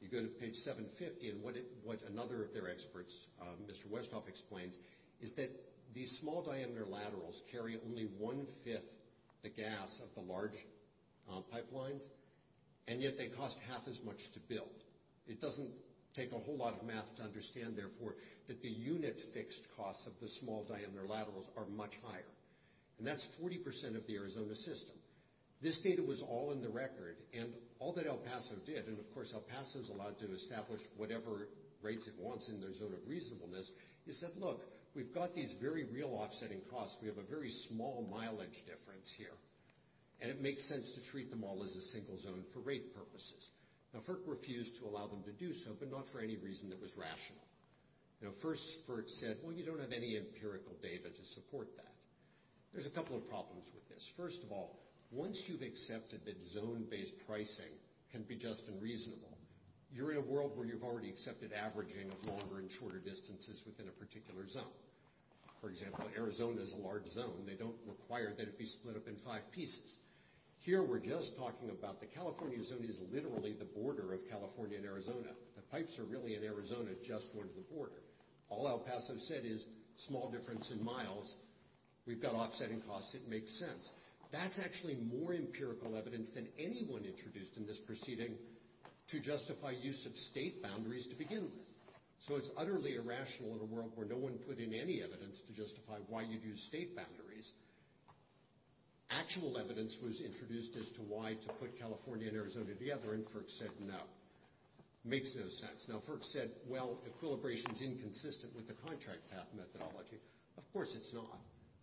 You go to page 750, and what another of their experts, Mr. Westhoff, explains, is that these small diameter laterals carry only one-fifth the gas of the large pipelines, and yet they cost half as much to build. It doesn't take a whole lot of math to understand, therefore, that the unit fixed costs of the small diameter laterals are much higher. And that's 40% of the Arizona system. This data was all in the record, and all that El Paso did, and, of course, El Paso's allowed to establish whatever rates it wants in their zone of reasonableness, is that, look, we've got these very real offsetting costs. We have a very small mileage difference here, and it makes sense to treat them all as a single zone for rate purposes. Now, FERC refused to allow them to do so, but not for any reason that was rational. Now, first, FERC said, well, you don't have any empirical data to support that. There's a couple of problems with this. First of all, once you've accepted that zone-based pricing can be just and reasonable, you're in a world where you've already accepted averaging of longer and shorter distances within a particular zone. For example, Arizona is a large zone. They don't require that it be split up in five pieces. Here we're just talking about the California zone is literally the border of California and Arizona. The pipes are really, in Arizona, just one of the border. All El Paso said is small difference in miles. We've got offsetting costs. It makes sense. That's actually more empirical evidence than anyone introduced in this proceeding to justify use of state boundaries to begin with. So it's utterly irrational in a world where no one put in any evidence to justify why you'd use state boundaries. Actual evidence was introduced as to why to put California and Arizona together, and FERC said no. Makes no sense. Now, FERC said, well, equilibration's inconsistent with the contract path methodology. Of course it's not.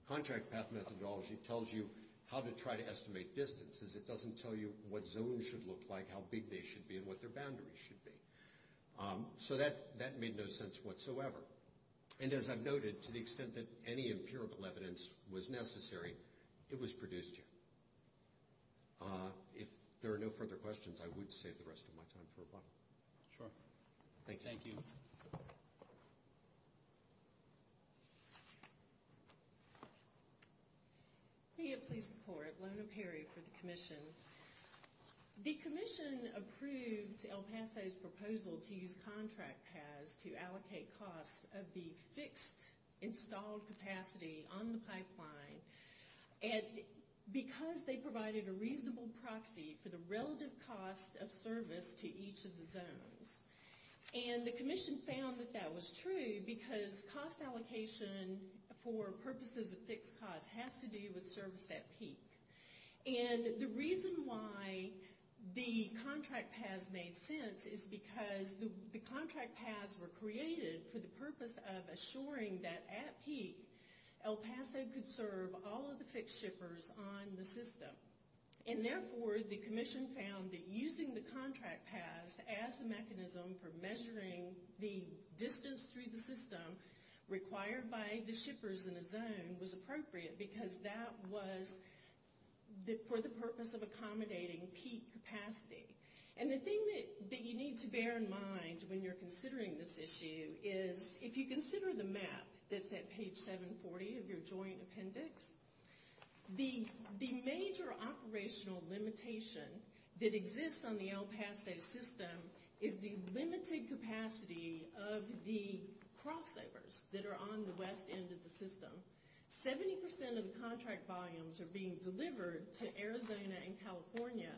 Contract path methodology tells you how to try to estimate distances. It doesn't tell you what zones should look like, how big they should be, and what their boundaries should be. So that made no sense whatsoever. And as I've noted, to the extent that any empirical evidence was necessary, it was produced here. If there are no further questions, I would save the rest of my time for a bottle. Sure. Thank you. Thank you. Leah, Police Department. Lona Perry for the Commission. The Commission approved El Paso's proposal to use contract paths to allocate costs of the fixed installed capacity on the pipeline. Because they provided a reasonable proxy for the relative costs of service to each of the zones. And the Commission found that that was true because cost allocation for purposes of fixed costs has to do with service at peak. And the reason why the contract paths made sense is because the contract paths were created for the purpose of assuring that at peak, El Paso could serve all of the fixed shippers on the system. And therefore, the Commission found that using the contract paths as a mechanism for measuring the distance through the system required by the shippers in a zone was appropriate because that was for the purpose of accommodating peak capacity. And the thing that you need to bear in mind when you're considering this issue is, if you consider the map that's at page 740 of your joint appendix, the major operational limitation that exists on the El Paso system is the limited capacity of the crossovers that are on the west end of the system. Seventy percent of the contract volumes are being delivered to Arizona and California,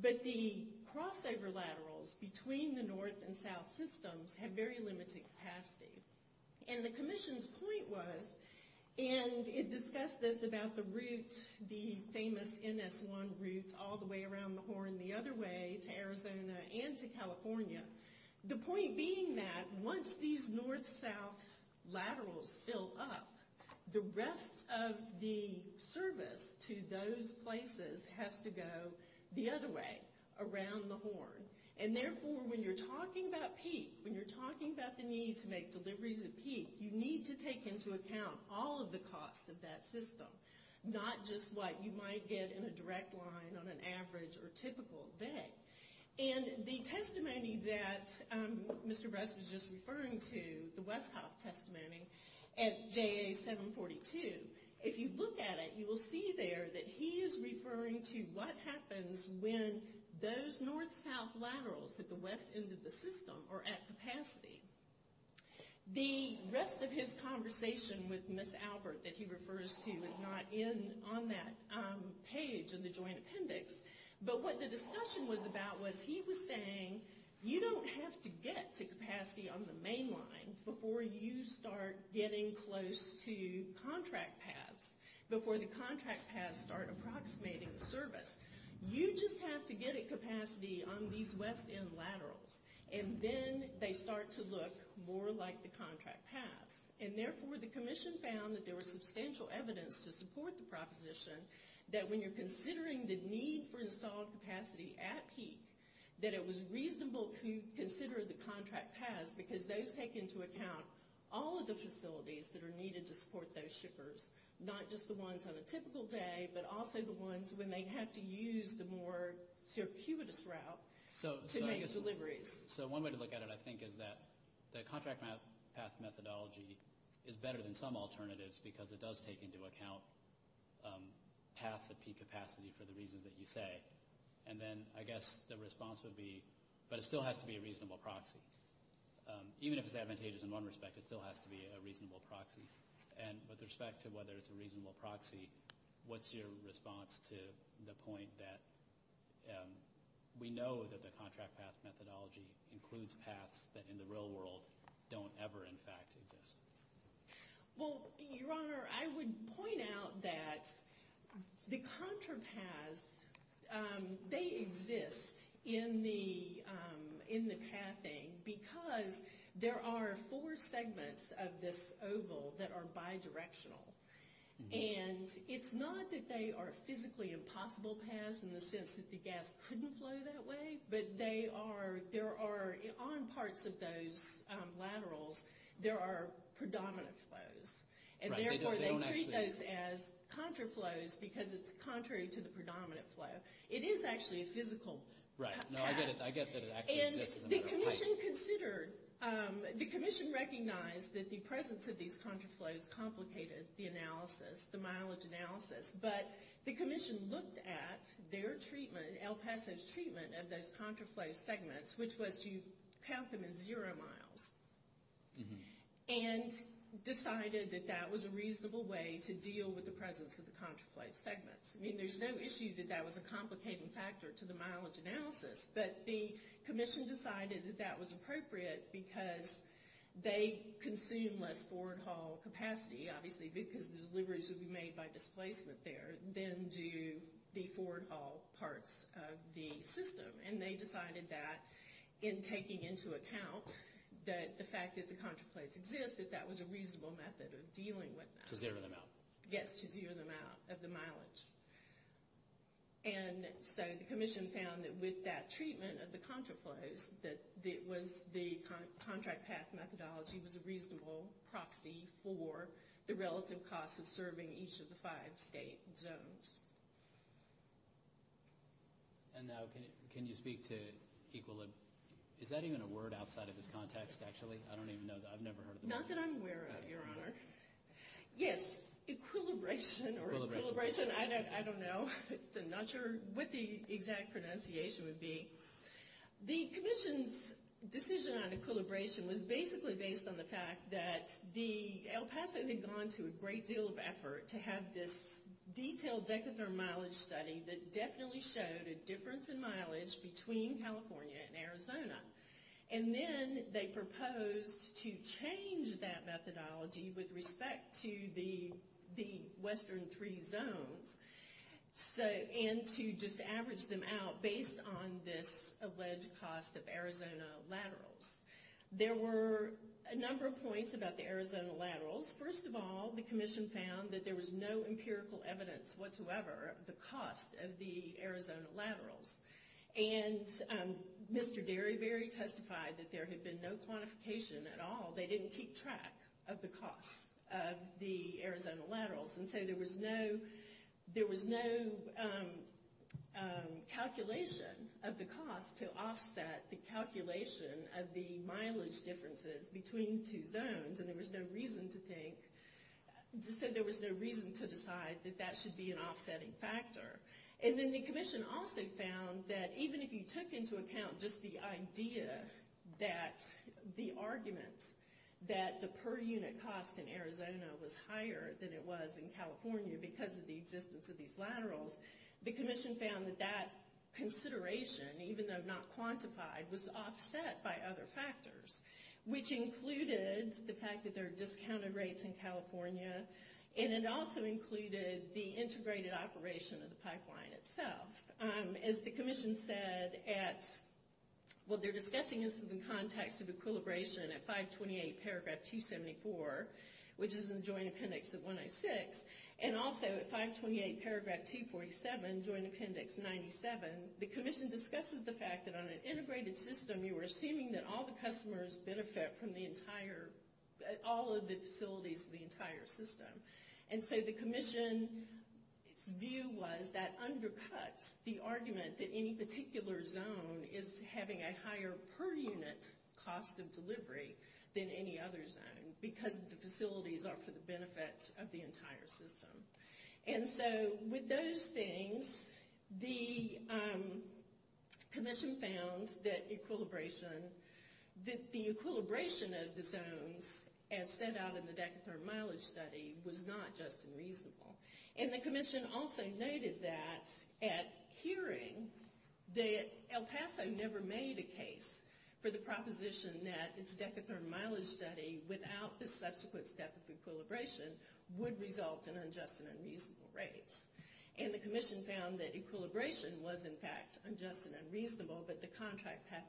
but the crossover laterals between the north and south systems have very limited capacity. And the Commission's point was, and it discussed this about the route, the famous NS1 route, all the way around the Horn the other way to Arizona and to California. The point being that once these north-south laterals fill up, the rest of the service to those places has to go the other way, around the Horn. And therefore, when you're talking about peak, when you're talking about the need to make deliveries at peak, you need to take into account all of the costs of that system, not just what you might get in a direct line on an average or typical day. And the testimony that Mr. Bress was just referring to, the Westhoff testimony at JA 742, if you look at it, you will see there that he is referring to what happens when those north-south laterals at the west end of the system are at capacity. The rest of his conversation with Ms. Albert that he refers to is not on that page in the joint appendix, but what the discussion was about was he was saying you don't have to get to capacity on the main line before you start getting close to contract paths, before the contract paths start approximating the service. You just have to get at capacity on these west end laterals, and then they start to look more like the contract paths. And therefore, the commission found that there was substantial evidence to support the proposition that when you're considering the need for installed capacity at peak, that it was reasonable to consider the contract paths because those take into account all of the facilities that are needed to support those shippers, not just the ones on a typical day, but also the ones when they have to use the more circuitous route to make deliveries. So one way to look at it, I think, is that the contract path methodology is better than some alternatives because it does take into account paths at peak capacity for the reasons that you say. And then I guess the response would be, but it still has to be a reasonable proxy. Even if it's advantageous in one respect, it still has to be a reasonable proxy. And with respect to whether it's a reasonable proxy, what's your response to the point that we know that the contract path methodology includes paths that in the real world don't ever, in fact, exist? Well, Your Honor, I would point out that the contra paths, they exist in the pathing because there are four segments of this oval that are bidirectional. And it's not that they are physically impossible paths in the sense that the gas couldn't flow that way, but on parts of those laterals, there are predominant flows. And therefore, they treat those as contra flows because it's contrary to the predominant flow. It is actually a physical path. Right. No, I get that it actually exists in the laterals. And the commission recognized that the presence of these contra flows complicated the analysis, the mileage analysis. But the commission looked at their treatment, El Paso's treatment of those contra flow segments, which was to count them as zero miles, and decided that that was a reasonable way to deal with the presence of the contra flow segments. I mean, there's no issue that that was a complicating factor to the mileage analysis, but the commission decided that that was appropriate because they consume less forward haul capacity, obviously, because the deliveries would be made by displacement there, than do the forward haul parts of the system. And they decided that in taking into account the fact that the contra flows exist, that that was a reasonable method of dealing with that. To zero them out. Yes, to zero them out of the mileage. And so the commission found that with that treatment of the contra flows, that the contract path methodology was a reasonable proxy for the relative cost of serving each of the five state zones. And now, can you speak to equilibrium? Is that even a word outside of this context, actually? I don't even know. I've never heard of it. Not that I'm aware of, Your Honor. Yes, equilibration, or equilibration, I don't know. I'm not sure what the exact pronunciation would be. The commission's decision on equilibration was basically based on the fact that El Paso had gone to a great deal of effort to have this detailed decatherm mileage study that definitely showed a difference in mileage between California and Arizona. And then they proposed to change that methodology with respect to the western three zones, and to just average them out based on this alleged cost of Arizona laterals. There were a number of points about the Arizona laterals. First of all, the commission found that there was no empirical evidence whatsoever of the cost of the Arizona laterals. And Mr. Derryberry testified that there had been no quantification at all. They didn't keep track of the cost of the Arizona laterals. And so there was no calculation of the cost to offset the calculation of the mileage differences between the two zones. And there was no reason to think, there was no reason to decide that that should be an offsetting factor. And then the commission also found that even if you took into account just the idea that the argument that the per unit cost in Arizona was higher than it was in California because of the existence of these laterals, the commission found that that consideration, even though not quantified, was offset by other factors, which included the fact that there are discounted rates in California, and it also included the integrated operation of the pipeline itself. As the commission said at, well, they're discussing this in the context of equilibration at 528 paragraph 274, which is in the joint appendix of 106, and also at 528 paragraph 247, joint appendix 97, the commission discusses the fact that on an integrated system, you were assuming that all the customers benefit from the entire, all of the facilities of the entire system. And so the commission's view was that undercuts the argument that any particular zone is having a higher per unit cost of delivery than any other zone because the facilities are for the benefit of the entire system. And so with those things, the commission found that equilibration, that the equilibration of the zones as set out in the decatherm mileage study was not just unreasonable. And the commission also noted that at hearing, El Paso never made a case for the proposition that its decatherm mileage study without the subsequent step of equilibration would result in unjust and unreasonable rates. And the commission found that equilibration was in fact unjust and unreasonable, but the contract path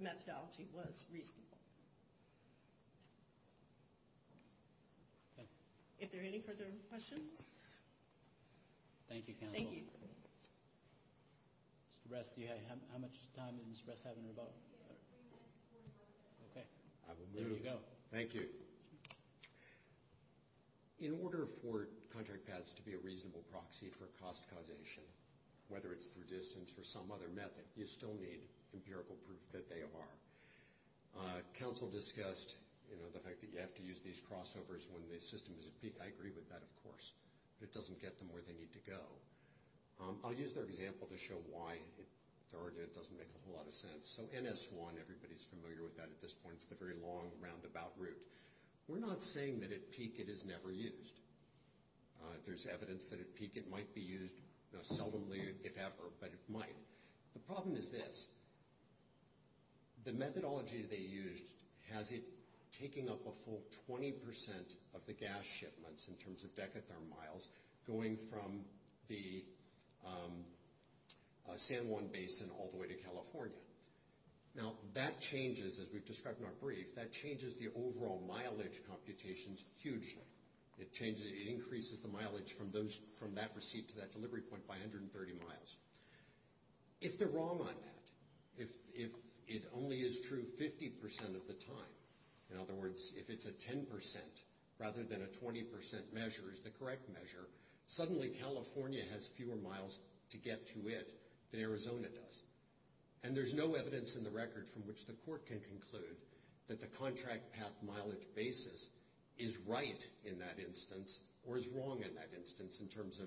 methodology was reasonable. If there are any further questions? Thank you, counsel. Mr. Ress, how much time does Mr. Ress have in the rebuttal? I will move. Thank you. In order for contract paths to be a reasonable proxy for cost causation, whether it's through distance or some other method, you still need empirical proof that they are. Counsel discussed, you know, the fact that you have to use these crossovers when the system is at peak. I agree with that, of course, but it doesn't get them where they need to go. I'll use their example to show why it doesn't make a whole lot of sense. So NS1, everybody's familiar with that at this point. It's the very long roundabout route. We're not saying that at peak it is never used. There's evidence that at peak it might be used, seldomly if ever, but it might. The problem is this. The methodology they used has it taking up a full 20 percent of the gas shipments in terms of decatherm miles going from the San Juan Basin all the way to California. Now that changes, as we've described in our brief, that changes the overall mileage computations hugely. It increases the mileage from that receipt to that delivery point by 130 miles. If they're wrong on that, if it only is true 50 percent of the time, in other words, if it's a 10 percent rather than a 20 percent measure is the correct measure, suddenly California has fewer miles to get to it than Arizona does. And there's no evidence in the record from which the court can conclude that the contract path mileage basis is right in that instance or is wrong in that instance in terms of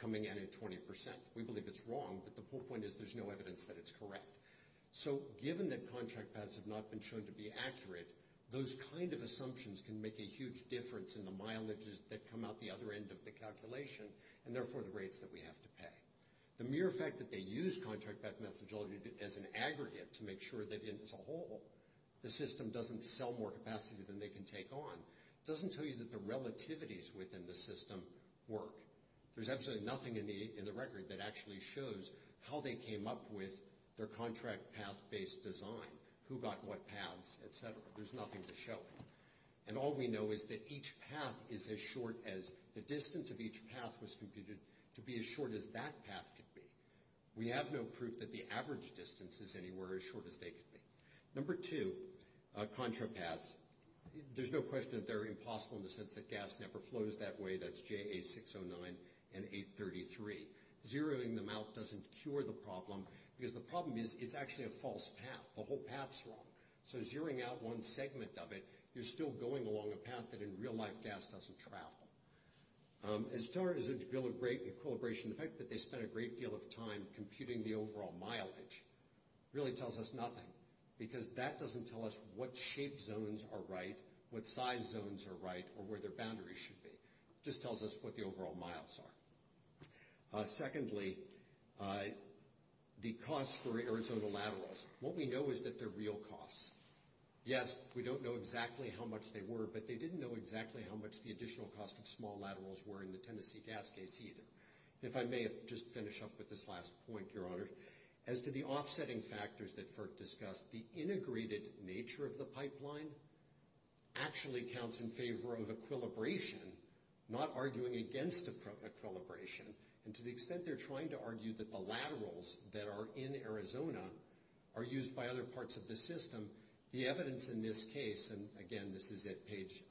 coming in at 20 percent. We believe it's wrong, but the whole point is there's no evidence that it's correct. So given that contract paths have not been shown to be accurate, those kind of assumptions can make a huge difference in the mileages that come out the other end of the calculation and therefore the rates that we have to pay. The mere fact that they use contract path methodology as an aggregate to make sure that as a whole the system doesn't sell more capacity than they can take on doesn't tell you that the relativities within the system work. There's absolutely nothing in the record that actually shows how they came up with their contract path based design, who got what paths, et cetera. There's nothing to show. And all we know is that each path is as short as the distance of each path was computed to be as short as that path could be. We have no proof that the average distance is anywhere as short as they could be. Number two, contra paths, there's no question that they're impossible in the sense that gas never flows that way. That's JA 609 and 833. Zeroing them out doesn't cure the problem because the problem is it's actually a false path. The whole path's wrong. So zeroing out one segment of it, you're still going along a path that in real life gas doesn't travel. As far as equilibration, the fact that they spent a great deal of time computing the overall mileage really tells us nothing because that doesn't tell us what shape zones are right, what size zones are right, or where their boundaries should be. It just tells us what the overall miles are. Secondly, the cost for Arizona laterals. What we know is that they're real costs. Yes, we don't know exactly how much they were, but they didn't know exactly how much the additional cost of small laterals were in the Tennessee gas case either. If I may, I'll just finish up with this last point, Your Honor. As to the offsetting factors that FERC discussed, the integrated nature of the pipeline actually counts in favor of equilibration, not arguing against equilibration. And to the extent they're trying to argue that the laterals that are in Arizona are used by other parts of the system, the evidence in this case, and again this is at page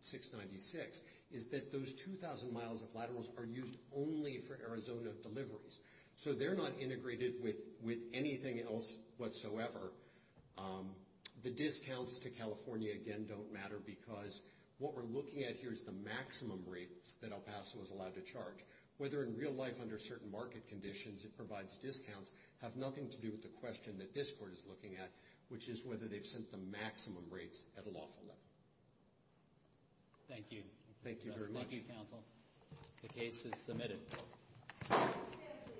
696, is that those 2,000 miles of laterals are used only for Arizona deliveries. So they're not integrated with anything else whatsoever. The discounts to California, again, don't matter because what we're looking at here is the maximum rates that El Paso is allowed to charge. Whether in real life under certain market conditions it provides discounts have nothing to do with the question that this court is looking at, which is whether they've sent the maximum rates at a lawful level. Thank you. Thank you very much. Thank you, counsel. The case is submitted.